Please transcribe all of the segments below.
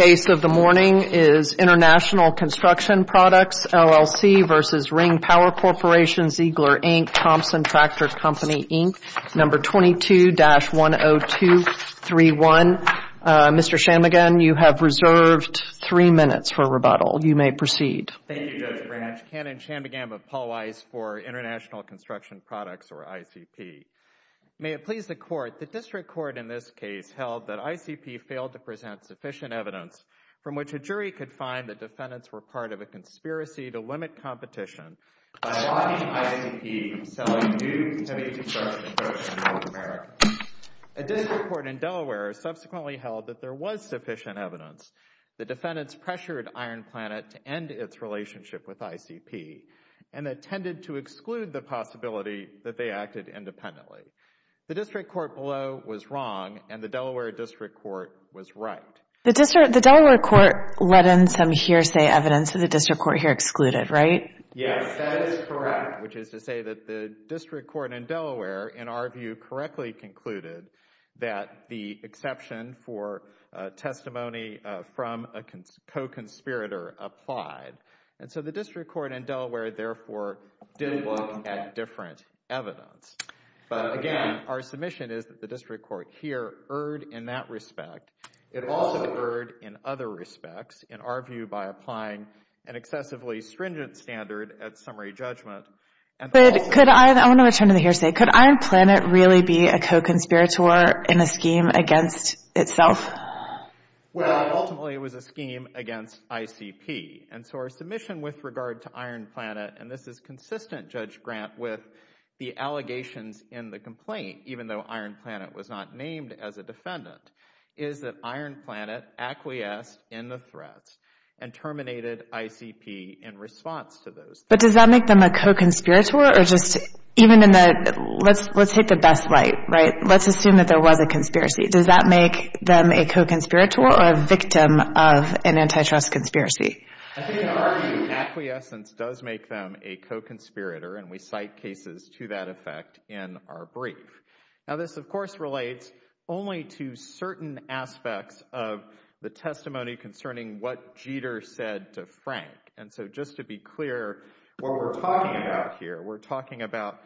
Case of the morning is International Construction Products, LLC v. Ring Power Corporation, Ziegler, Inc., Thompson Tractor Company, Inc., No. 22-10231. Mr. Shanmugam, you have reserved three minutes for rebuttal. You may proceed. Thank you, Judge Branch. Ken and Shanmugam of Paul Weiss for International Construction Products, or ICP. May it please the Court, the District Court in this case held that ICP failed to present sufficient evidence from which a jury could find that defendants were part of a conspiracy to limit competition by blocking ICP from selling new heavy construction products to North America. The District Court in Delaware subsequently held that there was sufficient evidence. The defendants pressured Iron Planet to end its relationship with ICP and intended to exclude the possibility that they acted independently. The District Court below was wrong, and the Delaware District Court was right. The Delaware Court let in some hearsay evidence that the District Court here excluded, right? Yes, that is correct, which is to say that the District Court in Delaware, in our view, correctly concluded that the exception for testimony from a co-conspirator applied. And so the District Court in Delaware, therefore, did look at different evidence. But again, our submission is that the District Court here erred in that respect. It also erred in other respects, in our view, by applying an excessively stringent standard at summary judgment. But could I, I want to return to the hearsay, could Iron Planet really be a co-conspirator in a scheme against itself? Well, ultimately, it was a scheme against ICP. And so our submission with regard to Iron Planet, and this is consistent, Judge Grant, with the allegations in the complaint, even though Iron Planet was not named as a defendant, is that Iron Planet acquiesced in the threats and terminated ICP in response to those. But does that make them a co-conspirator, or just, even in the, let's take the best light, right? Let's assume that there was a conspiracy. Does that make them a co-conspirator or a victim of an antitrust conspiracy? I think in our view, acquiescence does make them a co-conspirator, and we cite cases to that effect in our brief. Now, this, of course, relates only to certain aspects of the testimony concerning what Jeter said to Frank. And so just to be clear, what we're talking about here, we're talking about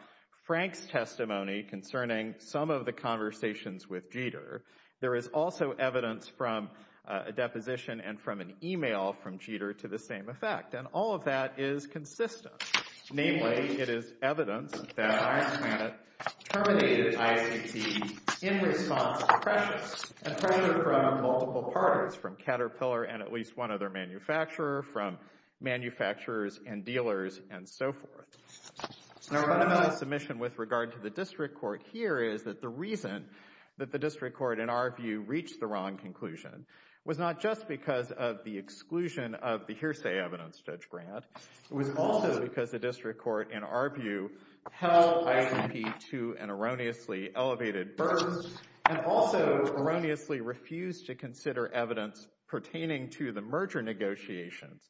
Frank's testimony concerning some of the conversations with Jeter. There is also evidence from a deposition and from an email from Jeter to the same effect, and all of that is consistent. Namely, it is evidence that Iron Planet terminated ICP in response to pressure, and pressure from multiple parties, from Caterpillar and at least one other manufacturer, from manufacturers and dealers, and so forth. Now, what about the submission with regard to the district court here is that the reason that the district court, in our view, reached the wrong conclusion was not just because of the exclusion of the hearsay evidence, Judge Grant, it was also because the district court, in our view, held ICP to an erroneously elevated burden and also erroneously refused to consider evidence pertaining to the merger negotiations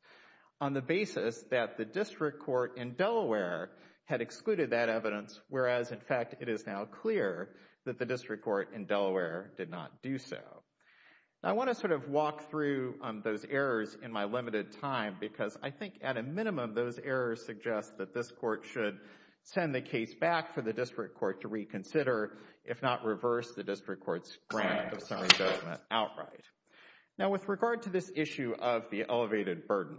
on the basis that the district court in Delaware had excluded that evidence, whereas, in fact, it is now clear that the district court in Delaware did not do so. Now, I want to sort of walk through those errors in my limited time because I think at a minimum, those errors suggest that this court should send the case back for the district court to reconsider, if not reverse the district court's grant of summary judgment outright. Now, with regard to this issue of the elevated burden,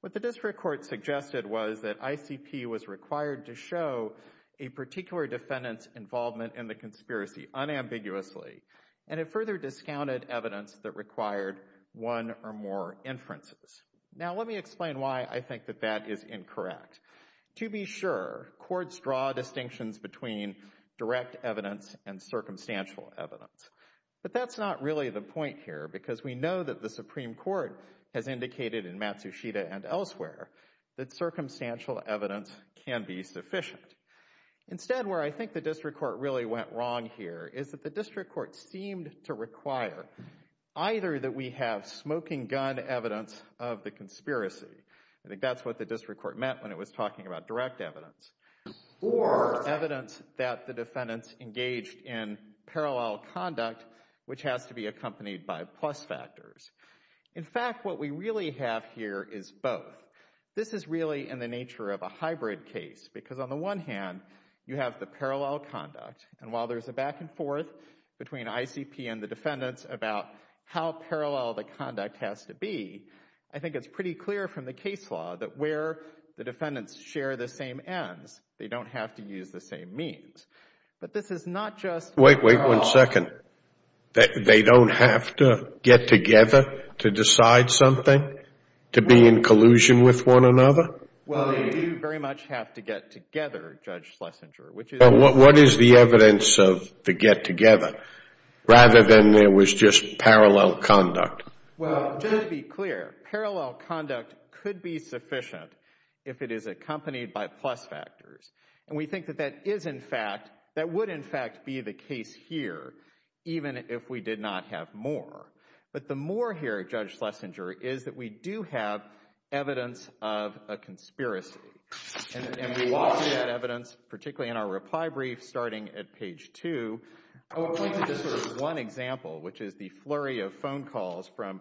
what the district court suggested was that ICP was required to show a particular defendant's involvement in the conspiracy unambiguously, and it further discounted evidence that required one or more inferences. Now, let me explain why I think that that is incorrect. To be sure, courts draw distinctions between direct evidence and circumstantial evidence, but that's not really the point here because we know that the Supreme Court has indicated in Matsushita and elsewhere that circumstantial evidence can be sufficient. Instead, where I think the district court really went wrong here is that the district court seemed to require either that we have smoking gun evidence of the conspiracy, I think that's what the district court meant when it was talking about direct evidence, or evidence that the defendants engaged in parallel conduct, which has to be accompanied by plus factors. In fact, what we really have here is both. This is really in the nature of a hybrid case, because on the one hand, you have the parallel conduct, and while there's a back and forth between ICP and the defendants about how parallel the conduct has to be, I think it's pretty clear from the case law that where the defendants share the same ends, they don't have to use the same means. But this is not just— Wait, wait one second. They don't have to get together to decide something, to be in collusion with one another? Well, they do very much have to get together, Judge Schlesinger, which is— What is the evidence of the get together, rather than there was just parallel conduct? Well, just to be clear, parallel conduct could be sufficient if it is accompanied by plus factors. And we think that that is, in fact, that would, in fact, be the case here, even if we did not have more. But the more here, Judge Schlesinger, is that we do have evidence of a conspiracy. And we will see that evidence, particularly in our reply brief, starting at page two. I will point to just sort of one example, which is the flurry of phone calls from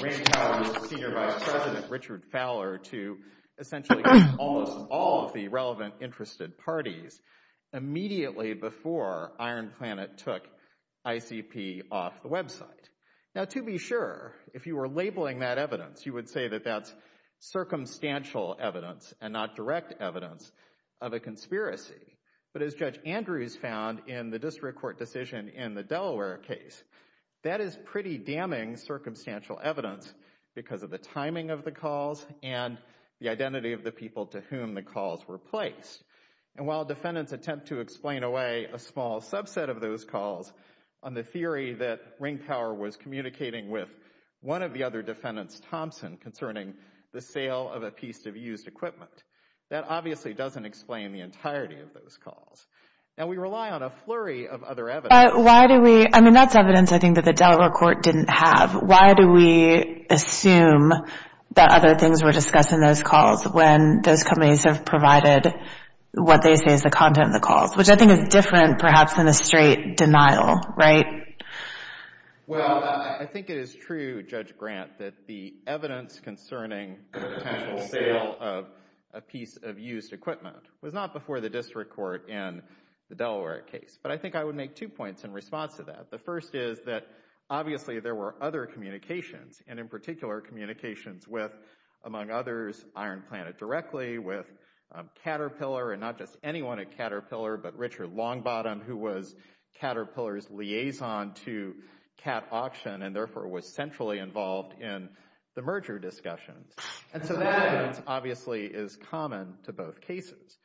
Rand and Fowler to essentially almost all of the relevant interested parties immediately before Iron Planet took ICP off the website. Now, to be sure, if you were labeling that evidence, you would say that that's circumstantial evidence and not direct evidence of a conspiracy. But as Judge Andrews found in the district court decision in the Delaware case, that is pretty damning circumstantial evidence because of the timing of the calls and the identity of the people to whom the calls were placed. And while defendants attempt to explain away a small subset of those calls on the theory that Ring Power was communicating with one of the other defendants, Thompson, concerning the sale of a piece of used equipment, that obviously doesn't explain the entirety of those calls. Now, we rely on a flurry of other evidence. But why do we, I mean, that's evidence I think that the Delaware court didn't have. Why do we assume that other things were discussed in those calls when those companies have provided what they say is the content of the calls, which I think is different perhaps than a straight denial, right? Well, I think it is true, Judge Grant, that the evidence concerning the potential sale of a piece of used equipment was not before the district court in the Delaware case. But I think I would make two points in response to that. The first is that obviously there were other communications, and in particular communications with, among others, Iron Planet directly, with Caterpillar, and not just anyone at Caterpillar, but Richard Longbottom, who was Caterpillar's liaison to Cat Auction and therefore was centrally involved in the merger discussions. And so that evidence obviously is common to both cases.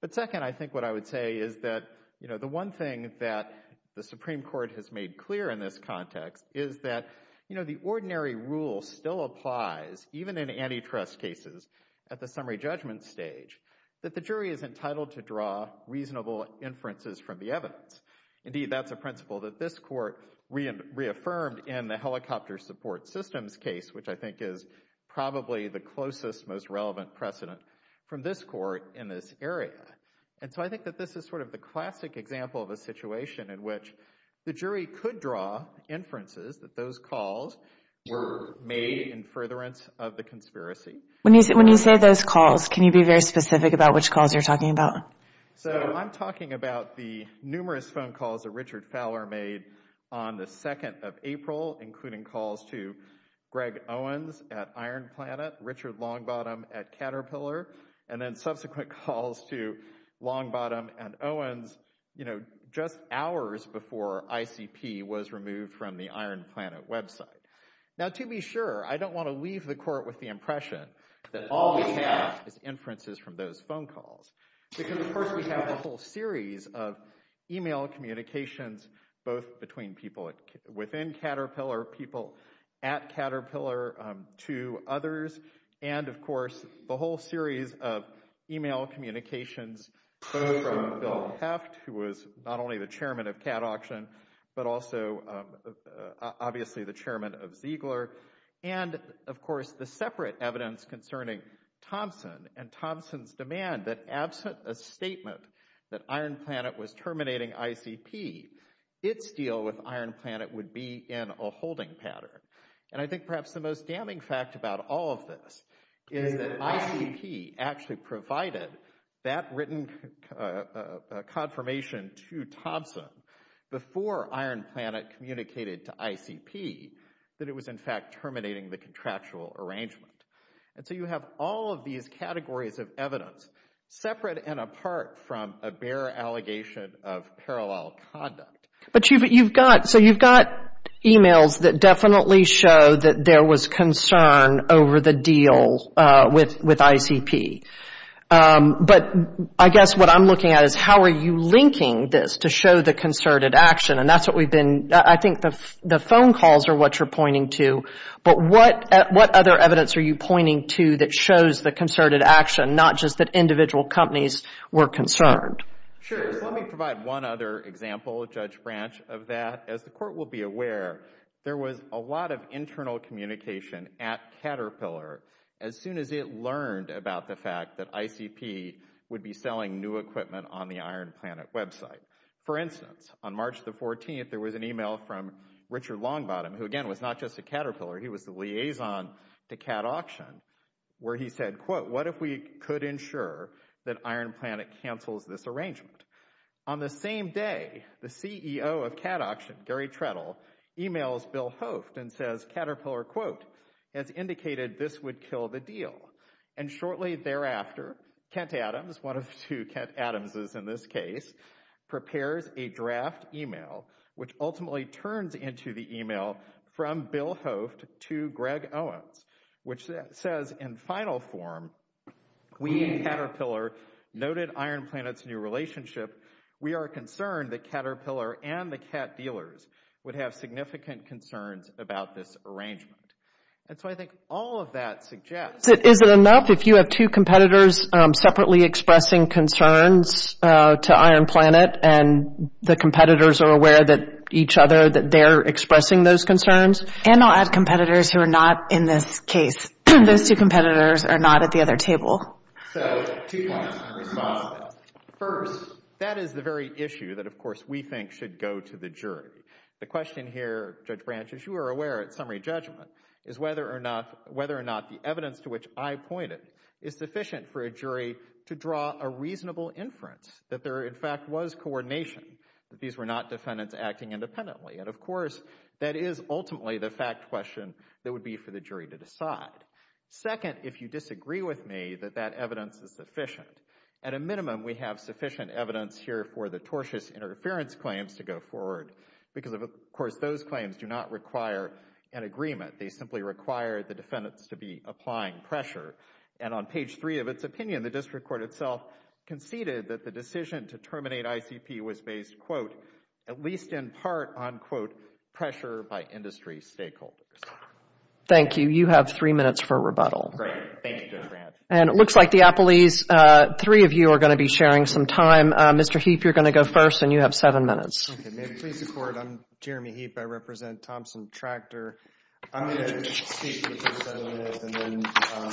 But second, I think what I would say is that, you know, the one thing that the Supreme Court has made clear in this context is that, you know, the ordinary rule still applies, even in antitrust cases at the summary judgment stage, that the jury is entitled to draw reasonable inferences from the evidence. Indeed, that's a principle that this court reaffirmed in the helicopter support systems case, which I think is probably the closest, most relevant precedent from this court in this area. And so I think that this is sort of the classic example of a situation in which the jury could draw inferences that those calls were made in furtherance of the conspiracy. When you say those calls, can you be very specific about which calls you're talking about? So I'm talking about the numerous phone calls that Richard Fowler made on the 2nd of April, including calls to Greg Owens at Iron Planet, Richard Longbottom at Caterpillar, and then subsequent calls to Longbottom and Owens, you know, just hours before ICP was removed from the Iron Planet website. Now, to be sure, I don't want to leave the court with the impression that all we have is inferences from those phone calls, because, of course, we have a whole series of email communications, both between people within Caterpillar, people at Caterpillar to others, and, of course, the whole series of email communications, both from Bill Heft, who was not only the chairman of Cat Auction, but also, obviously, the chairman of Ziegler, and, of course, the separate evidence concerning Thompson and Thompson's demand that absent a statement that Iron Planet was terminating ICP, its deal with Iron Planet would be in a holding pattern. And I think perhaps the most damning fact about all of this is that ICP actually provided that written confirmation to Thompson before Iron Planet communicated to ICP that it was, in fact, terminating the contractual arrangement. And so you have all of these categories of evidence separate and apart from a bare allegation of parallel conduct. But you've got – so you've got emails that definitely show that there was concern over the deal with ICP. But I guess what I'm looking at is how are you linking this to show the concerted action? And that's what we've been – I think the phone calls are what you're pointing to, but what other evidence are you pointing to that shows the concerted action, not just that individual companies were concerned? Sure. So let me provide one other example, Judge Branch, of that. As the Court will be aware, there was a lot of internal communication at Caterpillar as soon as it learned about the fact that ICP would be selling new equipment on the Iron Planet website. For instance, on March the 14th, there was an email from Richard Longbottom, who, again, was not just a Caterpillar. He was the liaison to Cat Auction, where he said, quote, what if we could ensure that On the same day, the CEO of Cat Auction, Gary Trettle, emails Bill Hoft and says, Caterpillar, quote, has indicated this would kill the deal. And shortly thereafter, Kent Adams, one of two Kent Adamses in this case, prepares a draft email, which ultimately turns into the email from Bill Hoft to Greg Owens, which says, in final form, we at Caterpillar noted Iron Planet's new relationship. We are concerned that Caterpillar and the cat dealers would have significant concerns about this arrangement. And so I think all of that suggests Is it enough if you have two competitors separately expressing concerns to Iron Planet and the competitors are aware that each other, that they're expressing those concerns? And I'll add competitors who are not in this case. Those two competitors are not at the other table. So two points in response to that. First, that is the very issue that, of course, we think should go to the jury. The question here, Judge Branch, as you are aware at summary judgment, is whether or not the evidence to which I pointed is sufficient for a jury to draw a reasonable inference that there, in fact, was coordination, that these were not defendants acting independently. And, of course, that is ultimately the fact question that would be for the jury to decide. Second, if you disagree with me, that that evidence is sufficient. At a minimum, we have sufficient evidence here for the tortious interference claims to go forward because, of course, those claims do not require an agreement. They simply require the defendants to be applying pressure. And on page three of its opinion, the district court itself conceded that the decision to was, quote, pressure by industry stakeholders. Thank you. You have three minutes for rebuttal. Great. Thank you, Judge Branch. And it looks like the appellees, three of you are going to be sharing some time. Mr. Heap, you're going to go first, and you have seven minutes. Okay. May it please the Court. I'm Jeremy Heap. I represent Thompson Tractor. I'm going to speak for seven minutes, and then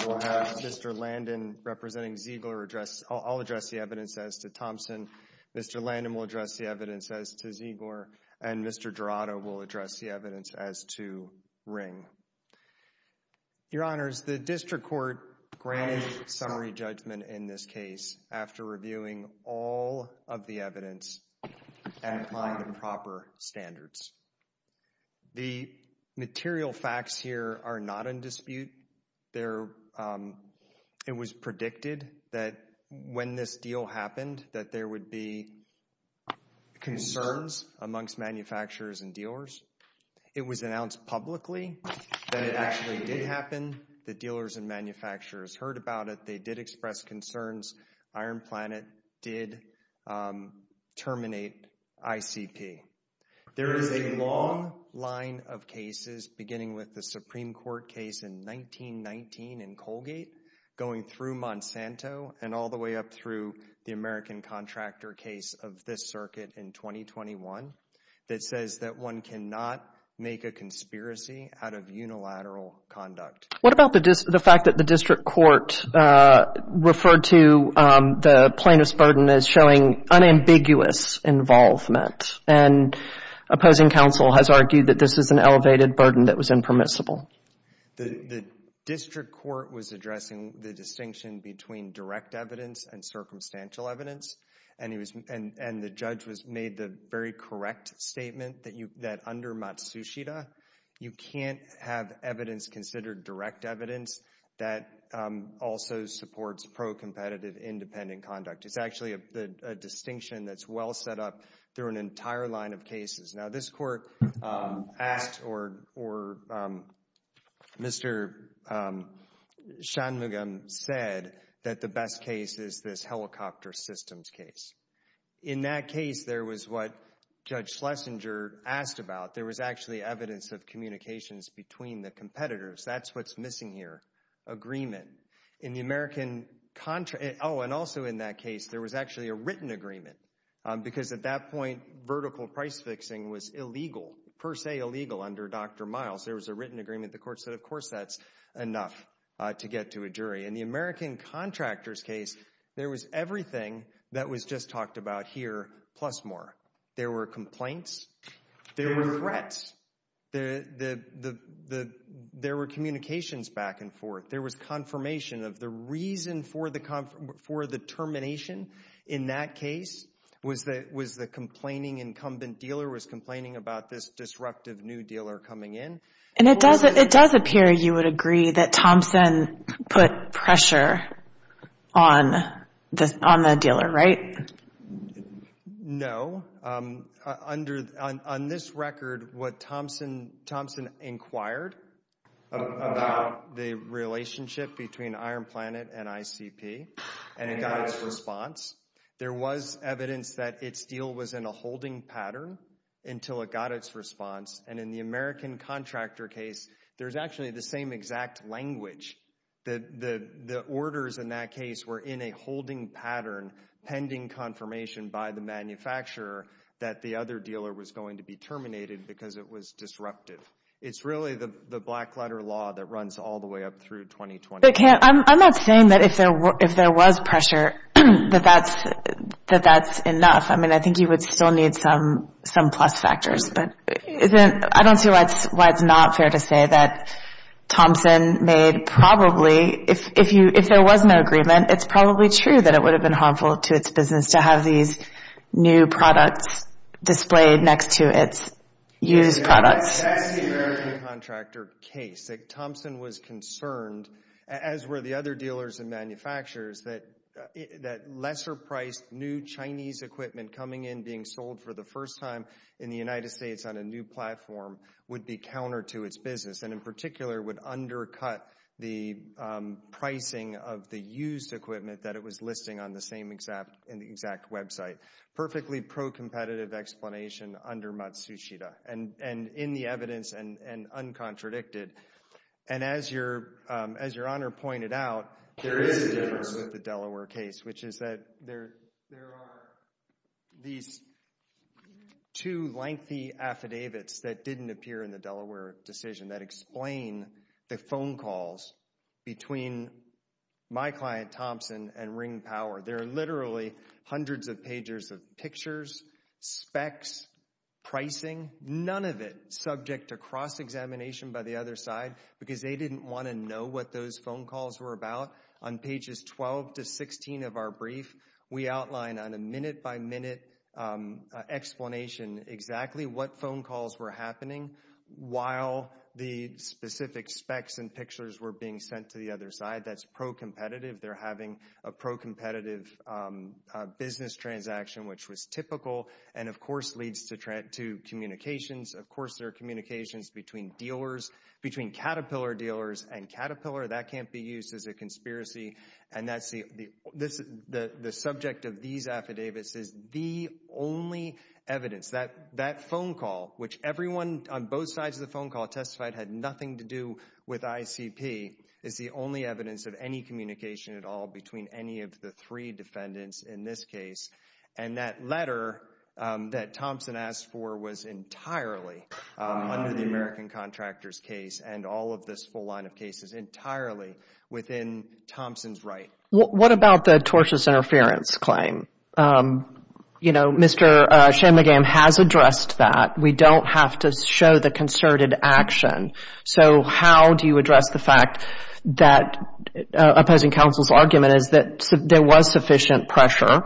we'll have Mr. Landon representing Ziegler address. I'll address the evidence as to Thompson. Mr. Landon will address the evidence as to Ziegler. And Mr. Jurado will address the evidence as to Ring. Your Honors, the district court granted summary judgment in this case after reviewing all of the evidence and applying the proper standards. The material facts here are not in dispute. It was predicted that when this deal happened, that there would be concerns amongst manufacturers and dealers. It was announced publicly that it actually did happen. The dealers and manufacturers heard about it. They did express concerns. Iron Planet did terminate ICP. There is a long line of cases, beginning with the Supreme Court case in 1919 in Colgate, going through Monsanto and all the way up through the American Contractor case of this circuit in 2021, that says that one cannot make a conspiracy out of unilateral conduct. What about the fact that the district court referred to the plaintiff's burden as showing unambiguous involvement and opposing counsel has argued that this is an elevated burden that was impermissible? The district court was addressing the distinction between direct evidence and circumstantial evidence, and the judge made the very correct statement that under Matsushita, you can't have evidence considered direct evidence that also supports pro-competitive independent conduct. It's actually a distinction that's well set up through an entire line of cases. Now, this court asked or Mr. Shanmugam said that the best case is this helicopter systems case. In that case, there was what Judge Schlesinger asked about. There was actually evidence of communications between the competitors. That's what's missing here, agreement. Oh, and also in that case, there was actually a written agreement because at that point, vertical price fixing was illegal, per se illegal under Dr. Miles. There was a written agreement. The court said, of course, that's enough to get to a jury. In the American Contractors case, there was everything that was just talked about here plus more. There were complaints, there were threats, there were communications back and forth, there was confirmation of the reason for the termination in that case was the complaining incumbent dealer was complaining about this disruptive new dealer coming in. And it does appear, you would agree, that Thompson put pressure on the dealer, right? No. On this record, what Thompson inquired about the relationship between Iron Planet and ICP and it got its response. There was evidence that its deal was in a holding pattern until it got its response. And in the American Contractor case, there's actually the same exact language. The orders in that case were in a holding pattern pending confirmation by the manufacturer that the other dealer was going to be terminated because it was disruptive. It's really the black letter law that runs all the way up through 2020. I'm not saying that if there was pressure, that that's enough. I mean, I think you would still need some plus factors. I don't see why it's not fair to say that Thompson made probably, if there was no agreement, it's probably true that it would have been harmful to its business to have these new products displayed next to its used products. That's the American Contractor case. Thompson was concerned, as were the other dealers and manufacturers, that lesser priced new Chinese equipment coming in, being sold for the first time in the United States on a new platform, would be counter to its business and in particular would undercut the pricing of the used equipment that it was listing on the same exact website. Perfectly pro-competitive explanation under Matsushita and in the evidence and uncontradicted. And as Your Honor pointed out, there is a difference with the Delaware case, which is that there are these two lengthy affidavits that didn't appear in the Delaware decision that explain the phone calls between my client Thompson and Ring Power. There are literally hundreds of pages of pictures, specs, pricing, none of it subject to cross-examination by the other side because they didn't want to know what those phone calls were about. On pages 12 to 16 of our brief, we outline on a minute-by-minute explanation exactly what phone calls were happening while the specific specs and pictures were being sent to the other side. That's pro-competitive. They're having a pro-competitive business transaction, which was typical, and of course leads to communications. Of course there are communications between dealers, between Caterpillar dealers and Caterpillar. That can't be used as a conspiracy, and the subject of these affidavits is the only evidence. That phone call, which everyone on both sides of the phone call testified had nothing to do with ICP, is the only evidence of any communication at all between any of the three defendants in this case. And that letter that Thompson asked for was entirely under the American contractor's case and all of this full line of cases entirely within Thompson's right. What about the tortious interference claim? You know, Mr. Shanmugam has addressed that. We don't have to show the concerted action. So how do you address the fact that opposing counsel's argument is that there was sufficient pressure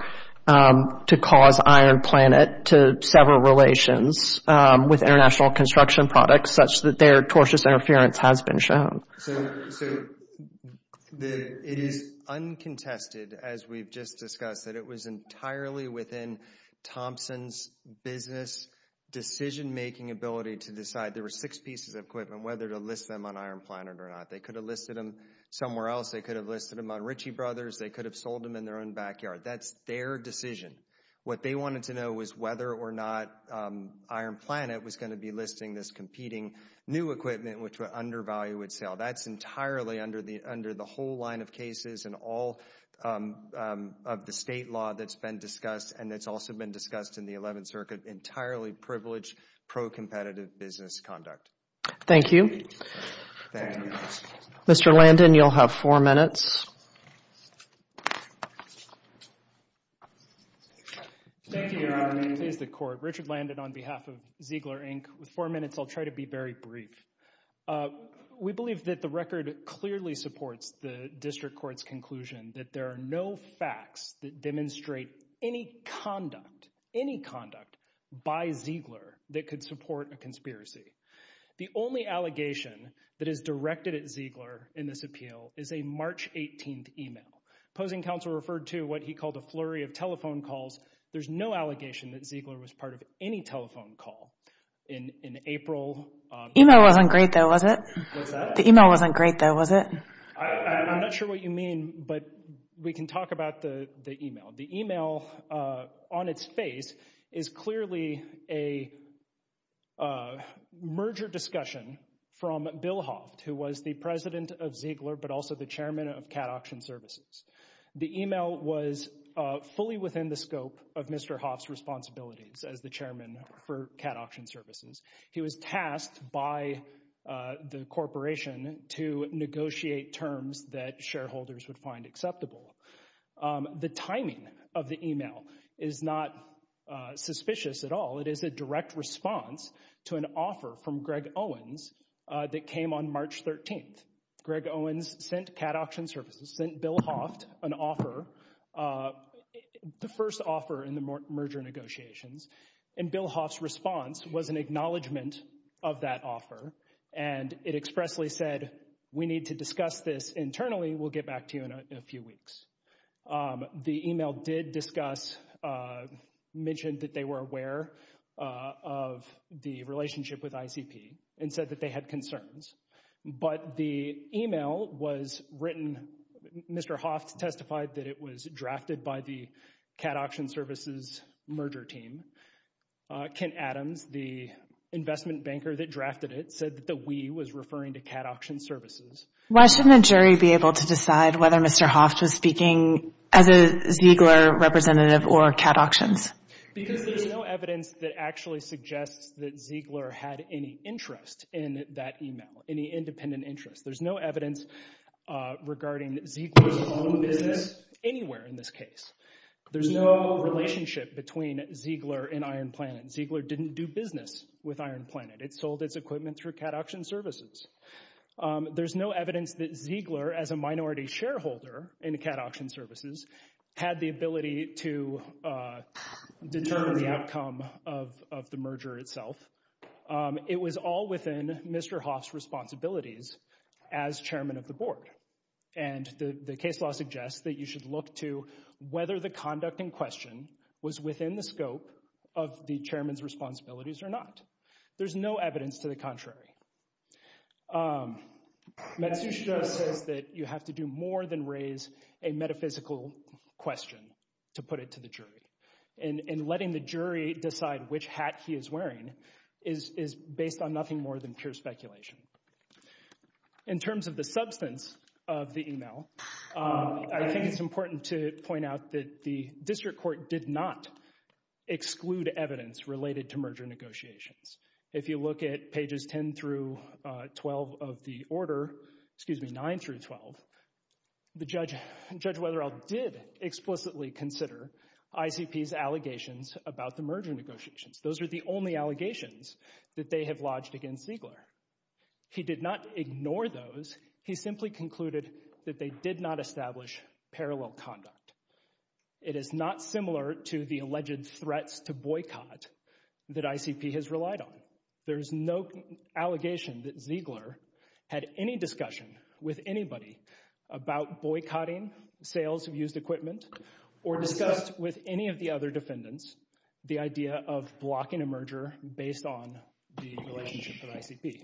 to cause Iron Planet to sever relations with international construction products such that their tortious interference has been shown? So it is uncontested, as we've just discussed, that it was entirely within Thompson's business decision-making ability to decide. There were six pieces of equipment, whether to list them on Iron Planet or not. They could have listed them somewhere else. They could have listed them on Ritchie Brothers. They could have sold them in their own backyard. That's their decision. What they wanted to know was whether or not Iron Planet was going to be listing this competing new equipment, which would undervalue its sale. That's entirely under the whole line of cases and all of the state law that's been discussed, and it's also been discussed in the Eleventh Circuit, entirely privileged, pro-competitive business conduct. Thank you. Thank you. Mr. Landon, you'll have four minutes. Thank you, Your Honor. Please, the Court. Richard Landon on behalf of Ziegler, Inc. With four minutes, I'll try to be very brief. We believe that the record clearly supports the district court's conclusion that there are no facts that demonstrate any conduct, any conduct, by Ziegler that could support a conspiracy. The only allegation that is directed at Ziegler in this appeal is a March 18th email. Opposing counsel referred to what he called a flurry of telephone calls. There's no allegation that Ziegler was part of any telephone call in April. The email wasn't great, though, was it? What's that? The email wasn't great, though, was it? I'm not sure what you mean, but we can talk about the email. The email, on its face, is clearly a merger discussion from Bill Hoff, who was the president of Ziegler, but also the chairman of Cat Auction Services. The email was fully within the scope of Mr. Hoff's responsibilities as the chairman for Cat Auction Services. He was tasked by the corporation to negotiate terms that shareholders would find acceptable. The timing of the email is not suspicious at all. It is a direct response to an offer from Greg Owens that came on March 13th. Greg Owens sent Cat Auction Services, sent Bill Hoff an offer, the first offer in the merger negotiations, and Bill Hoff's response was an acknowledgment of that offer, and it expressly said, we need to discuss this internally. We'll get back to you in a few weeks. The email did discuss, mentioned that they were aware of the relationship with ICP and said that they had concerns, but the email was written, Mr. Hoff testified that it was drafted by the Cat Auction Services merger team. Ken Adams, the investment banker that drafted it, said that the we was referring to Cat Auction Services. Why shouldn't a jury be able to decide whether Mr. Hoff was speaking as a Ziegler representative or Cat Auctions? Because there's no evidence that actually suggests that Ziegler had any interest in that email, any independent interest. There's no evidence regarding Ziegler's own business anywhere in this case. There's no relationship between Ziegler and Iron Planet. Ziegler didn't do business with Iron Planet. It sold its equipment through Cat Auction Services. There's no evidence that Ziegler, as a minority shareholder in Cat Auction Services, had the ability to determine the outcome of the merger itself. It was all within Mr. Hoff's responsibilities as chairman of the board, and the case law suggests that you should look to whether the conduct in question was within the scope of the chairman's responsibilities or not. There's no evidence to the contrary. Matsushita says that you have to do more than raise a metaphysical question to put it to the jury, and letting the jury decide which hat he is wearing is based on nothing more than pure speculation. In terms of the substance of the email, I think it's important to point out that the district court did not exclude evidence related to merger negotiations. If you look at pages 10 through 12 of the order, excuse me, 9 through 12, Judge Weatherill did explicitly consider ICP's allegations about the merger negotiations. Those are the only allegations that they have lodged against Ziegler. He did not ignore those. He simply concluded that they did not establish parallel conduct. It is not similar to the alleged threats to boycott that ICP has relied on. There is no allegation that Ziegler had any discussion with anybody about boycotting sales of used equipment or discussed with any of the other defendants the idea of blocking a merger based on the relationship with ICP.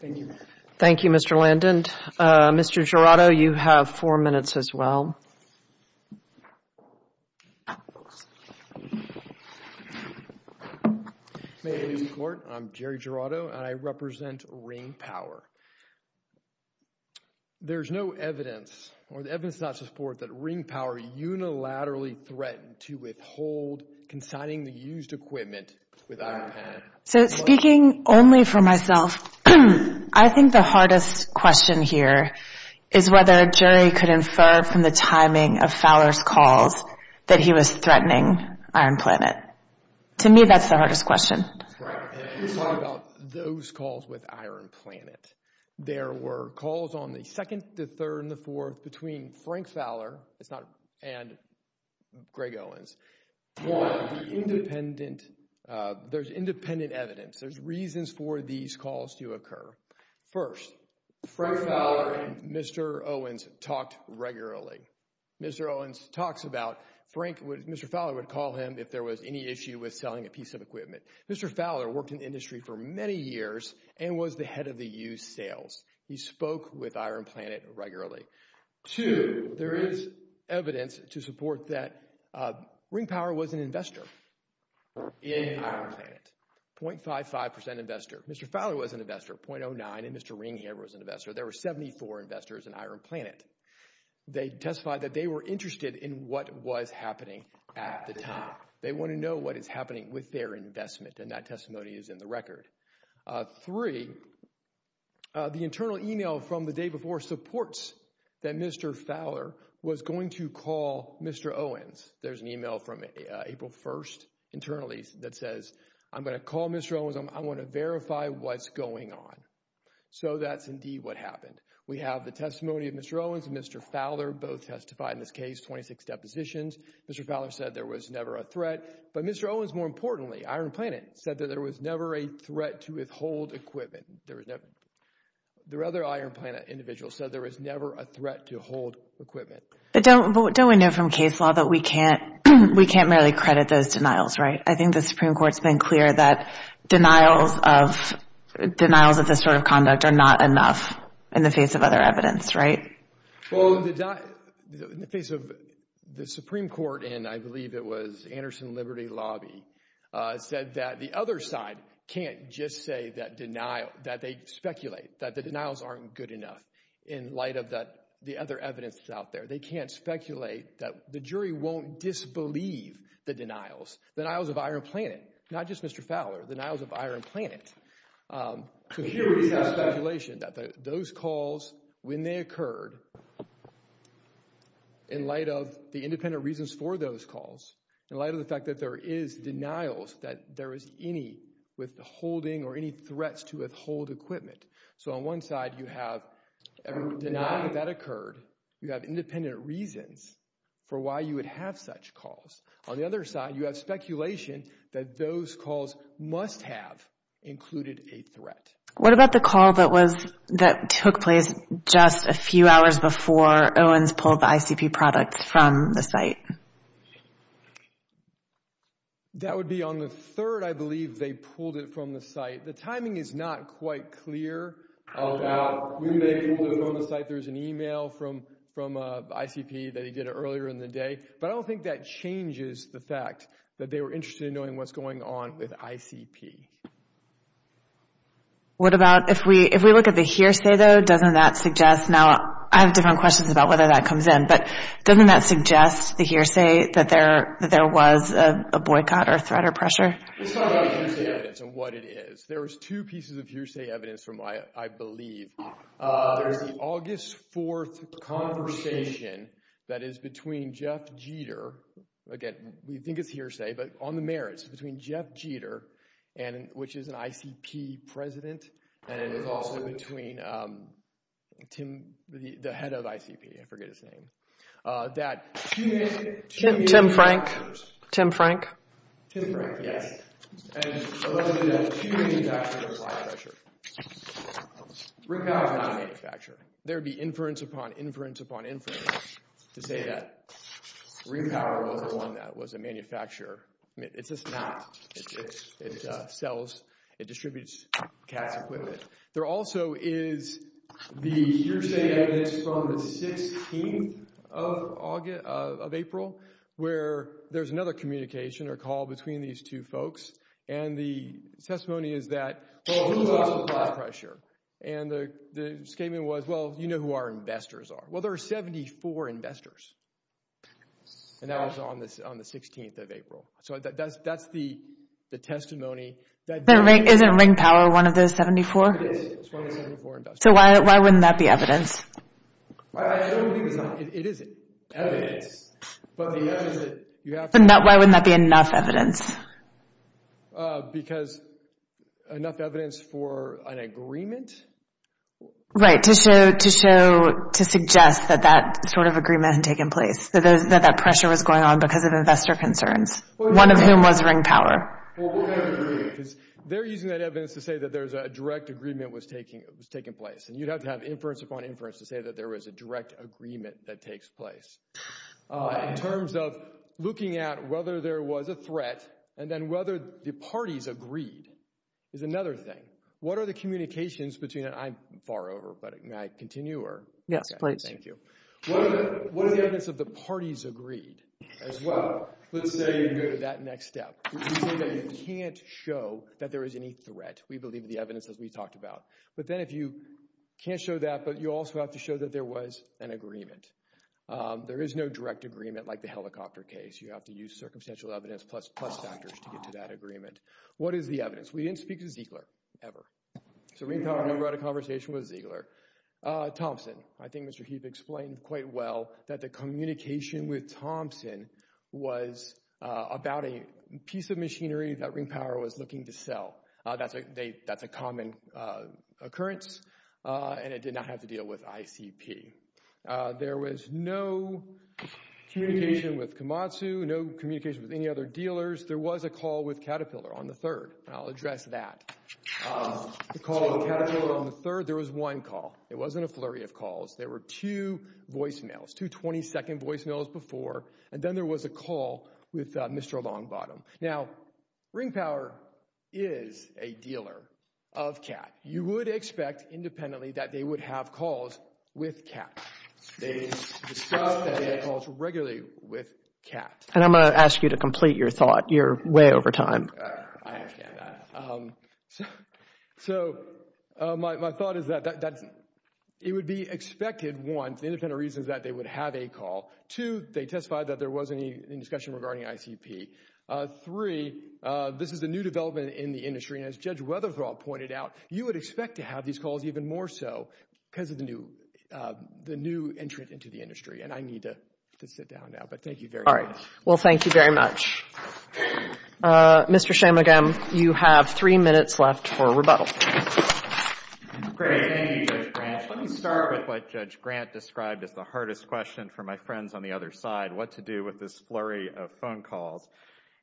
Thank you. Thank you, Mr. Landon. Mr. Jurado, you have four minutes as well. May it please the Court, I'm Jerry Jurado and I represent Ring Power. There is no evidence or the evidence does not support that Ring Power unilaterally threatened to withhold consigning the used equipment with ICP. So speaking only for myself, I think the hardest question here is whether a jury could infer from the timing of Fowler's calls that he was threatening Iron Planet. To me, that's the hardest question. Correct. And if you talk about those calls with Iron Planet, there were calls on the second, the third, and the fourth between Frank Fowler and Greg Owens. One, the independent, there's independent evidence, there's reasons for these calls to occur. First, Frank Fowler and Mr. Owens talked regularly. Mr. Owens talks about Frank, Mr. Fowler would call him if there was any issue with selling a piece of equipment. Mr. Fowler worked in the industry for many years and was the head of the used sales. He spoke with Iron Planet regularly. Two, there is evidence to support that Ring Power was an investor in Iron Planet, 0.55% investor. Mr. Fowler was an investor, 0.09%, and Mr. Ring here was an investor. There were 74 investors in Iron Planet. They testified that they were interested in what was happening at the time. They want to know what is happening with their investment, and that testimony is in the record. Three, the internal email from the day before supports that Mr. Fowler was going to call Mr. Owens. There's an email from April 1st internally that says, I'm going to call Mr. Owens. I want to verify what's going on. So that's indeed what happened. We have the testimony of Mr. Owens and Mr. Fowler, both testified in this case, 26 depositions. Mr. Fowler said there was never a threat. But Mr. Owens, more importantly, Iron Planet, said that there was never a threat to withhold equipment. The other Iron Planet individual said there was never a threat to hold equipment. But don't we know from case law that we can't really credit those denials, right? I think the Supreme Court has been clear that denials of this sort of conduct are not enough in the face of other evidence, right? Well, in the face of the Supreme Court, and I believe it was Anderson Liberty Lobby, said that the other side can't just say that they speculate, that the denials aren't good enough, in light of the other evidence that's out there. They can't speculate that the jury won't disbelieve the denials, the denials of Iron Planet. Not just Mr. Fowler, the denials of Iron Planet. So here we have speculation that those calls, when they occurred, in light of the independent reasons for those calls, in light of the fact that there is denials that there is any withholding or any threats to withhold equipment. So on one side, you have denial that occurred. You have independent reasons for why you would have such calls. On the other side, you have speculation that those calls must have included a threat. What about the call that took place just a few hours before Owens pulled the ICP product from the site? That would be on the third, I believe, they pulled it from the site. The timing is not quite clear about who may have pulled it from the site. There's an email from ICP that he did earlier in the day, but I don't think that changes the fact that they were interested in knowing what's going on with ICP. What about if we look at the hearsay, though, doesn't that suggest – now I have different questions about whether that comes in, but doesn't that suggest the hearsay that there was a boycott or threat or pressure? It's not about hearsay evidence and what it is. There was two pieces of hearsay evidence from, I believe, there was the August 4th conversation that is between Jeff Jeter. Again, we think it's hearsay, but on the merits, between Jeff Jeter, which is an ICP president, and it was also between Tim, the head of ICP, I forget his name. Tim Frank. Tim Frank. Tim Frank, yes. And allegedly that two manufacturers applied pressure. Repower is not a manufacturer. There would be inference upon inference upon inference to say that Repower was the one that was a manufacturer. It's just not. It sells, it distributes CATS equipment. There also is the hearsay evidence from the 16th of April where there's another communication or call between these two folks, and the testimony is that, well, who's also applied pressure? And the statement was, well, you know who our investors are. Well, there are 74 investors, and that was on the 16th of April. So that's the testimony. Isn't Ring Power one of those 74? It is. It's one of the 74 investors. So why wouldn't that be evidence? I don't think it's not. It isn't. Evidence. But why wouldn't that be enough evidence? Because enough evidence for an agreement? Right, to suggest that that sort of agreement had taken place, that that pressure was going on because of investor concerns, one of whom was Ring Power. Well, what kind of agreement? Because they're using that evidence to say that there's a direct agreement was taking place, and you'd have to have inference upon inference to say that there was a direct agreement that takes place. In terms of looking at whether there was a threat and then whether the parties agreed is another thing. What are the communications between that? I'm far over, but may I continue? Yes, please. Thank you. What are the evidence of the parties agreed as well? Let's say you go to that next step. Let's say that you can't show that there is any threat. We believe the evidence that we talked about. But then if you can't show that, but you also have to show that there was an agreement. There is no direct agreement like the helicopter case. You have to use circumstantial evidence plus factors to get to that agreement. What is the evidence? We didn't speak to Ziegler ever. So Ring Power never had a conversation with Ziegler. Thompson. I think Mr. Heath explained quite well that the communication with Thompson was about a piece of machinery that Ring Power was looking to sell. That's a common occurrence, and it did not have to deal with ICP. There was no communication with Komatsu, no communication with any other dealers. There was a call with Caterpillar on the third. I'll address that. The call with Caterpillar on the third, there was one call. It wasn't a flurry of calls. There were two voicemails, two 20-second voicemails before, and then there was a call with Mr. Longbottom. Now, Ring Power is a dealer of CAT. You would expect independently that they would have calls with CAT. They discussed that they had calls regularly with CAT. And I'm going to ask you to complete your thought. You're way over time. I understand that. So my thought is that it would be expected, one, the independent reasons that they would have a call. Two, they testified that there wasn't any discussion regarding ICP. Three, this is a new development in the industry, and as Judge Weatherthorpe pointed out, you would expect to have these calls even more so because of the new entrant into the industry. And I need to sit down now, but thank you very much. All right. Well, thank you very much. Mr. Shamagam, you have three minutes left for rebuttal. Great. Thank you, Judge Grant. Let me start with what Judge Grant described as the hardest question for my friends on the other side, what to do with this flurry of phone calls.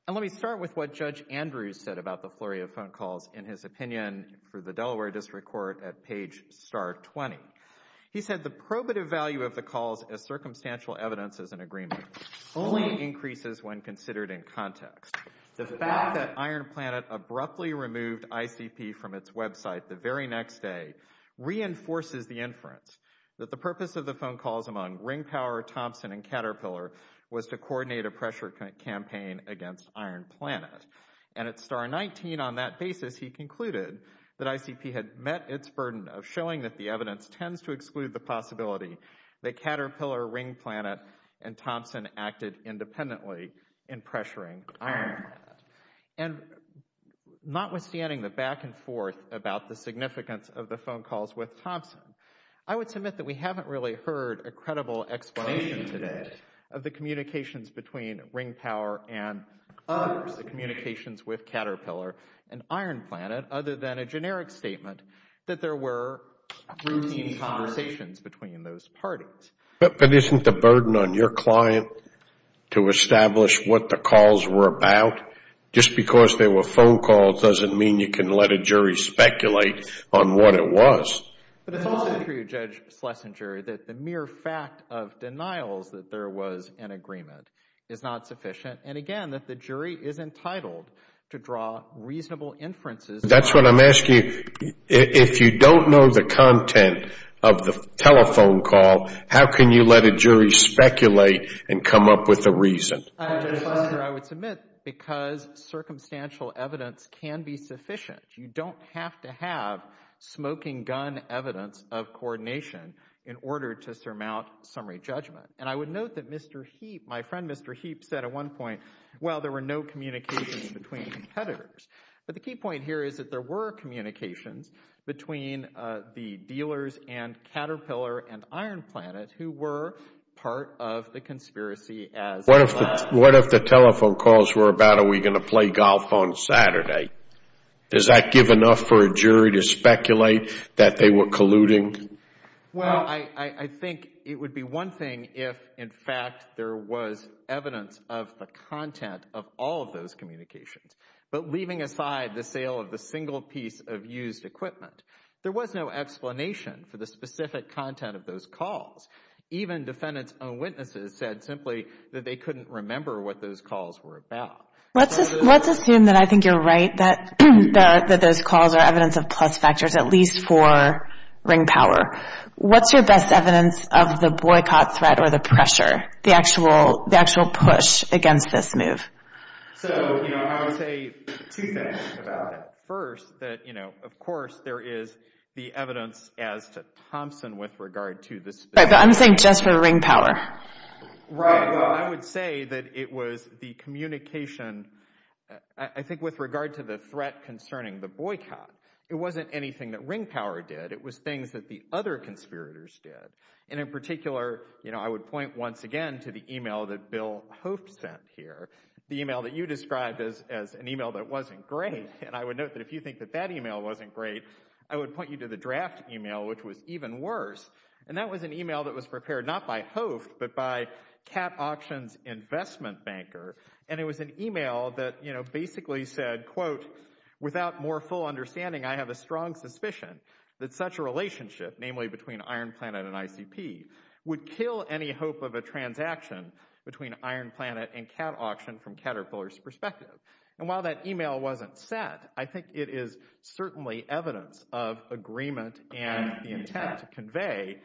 And let me start with what Judge Andrews said about the flurry of phone calls in his opinion for the Delaware District Court at page star 20. He said the probative value of the calls as circumstantial evidence as an agreement only increases when considered in context. The fact that Iron Planet abruptly removed ICP from its website the very next day reinforces the inference that the purpose of the phone calls among Ring Power, Thompson, and Caterpillar was to coordinate a pressure campaign against Iron Planet. And at star 19 on that basis, he concluded that ICP had met its burden of showing that the evidence tends to exclude the possibility that Caterpillar, Ring Planet, and Thompson acted independently in pressuring Iron Planet. And notwithstanding the back and forth about the significance of the phone calls with Thompson, I would submit that we haven't really heard a credible explanation today of the communications between Ring Power and others, the communications with Caterpillar and Iron Planet, other than a generic statement that there were routine conversations between those parties. But isn't the burden on your client to establish what the calls were about? Just because they were phone calls doesn't mean you can let a jury speculate on what it was. But it's also true, Judge Schlesinger, that the mere fact of denials that there was an agreement is not sufficient. And again, that the jury is entitled to draw reasonable inferences. That's what I'm asking. If you don't know the content of the telephone call, how can you let a jury speculate and come up with a reason? Judge Schlesinger, I would submit because circumstantial evidence can be sufficient. You don't have to have smoking gun evidence of coordination in order to surmount summary judgment. And I would note that Mr. Heap, my friend Mr. Heap, said at one point, well, there were no communications between competitors. But the key point here is that there were communications between the dealers and Caterpillar and Iron Planet who were part of the conspiracy as well. What if the telephone calls were about are we going to play golf on Saturday? Does that give enough for a jury to speculate that they were colluding? Well, I think it would be one thing if, in fact, there was evidence of the content of all of those communications. But leaving aside the sale of the single piece of used equipment, there was no explanation for the specific content of those calls. Even defendant's own witnesses said simply that they couldn't remember what those calls were about. Let's assume that I think you're right, that those calls are evidence of plus factors, at least for ring power. What's your best evidence of the boycott threat or the pressure, the actual push against this move? So, you know, I would say two things about it. First, that, you know, of course there is the evidence as to Thompson with regard to this. Right, but I'm saying just for ring power. Right. I would say that it was the communication, I think, with regard to the threat concerning the boycott. It wasn't anything that ring power did. It was things that the other conspirators did. And in particular, you know, I would point once again to the email that Bill Hope sent here. The email that you described as as an email that wasn't great. And I would note that if you think that that email wasn't great, I would point you to the draft email, which was even worse. And that was an email that was prepared not by Hope, but by Cat Auctions Investment Banker. And it was an email that, you know, basically said, quote, without more full understanding, I have a strong suspicion that such a relationship, namely between Iron Planet and ICP, would kill any hope of a transaction between Iron Planet and Cat Auction from Caterpillar's perspective. And while that email wasn't set, I think it is certainly evidence of agreement and the intent to convey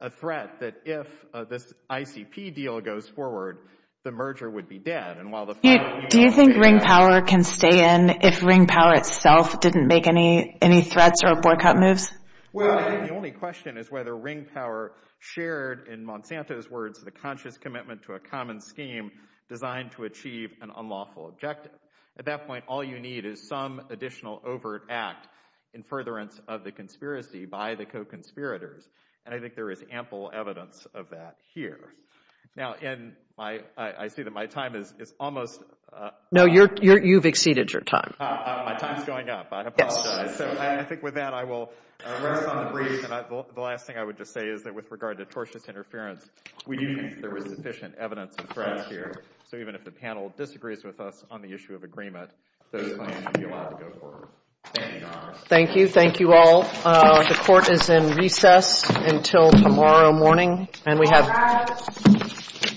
a threat that if this ICP deal goes forward, the merger would be dead. Do you think ring power can stay in if ring power itself didn't make any threats or boycott moves? Well, the only question is whether ring power shared, in Monsanto's words, the conscious commitment to a common scheme designed to achieve an unlawful objective. At that point, all you need is some additional overt act in furtherance of the conspiracy by the co-conspirators. And I think there is ample evidence of that here. Now, and I see that my time is almost up. No, you've exceeded your time. My time is going up. I apologize. So I think with that, I will rest on the breeze. And the last thing I would just say is that with regard to tortious interference, we do think there was sufficient evidence of threats here. So even if the panel disagrees with us on the issue of agreement, those claims would be allowed to go forward. Thank you. Thank you. Thank you all. The court is in recess until tomorrow morning. And we have.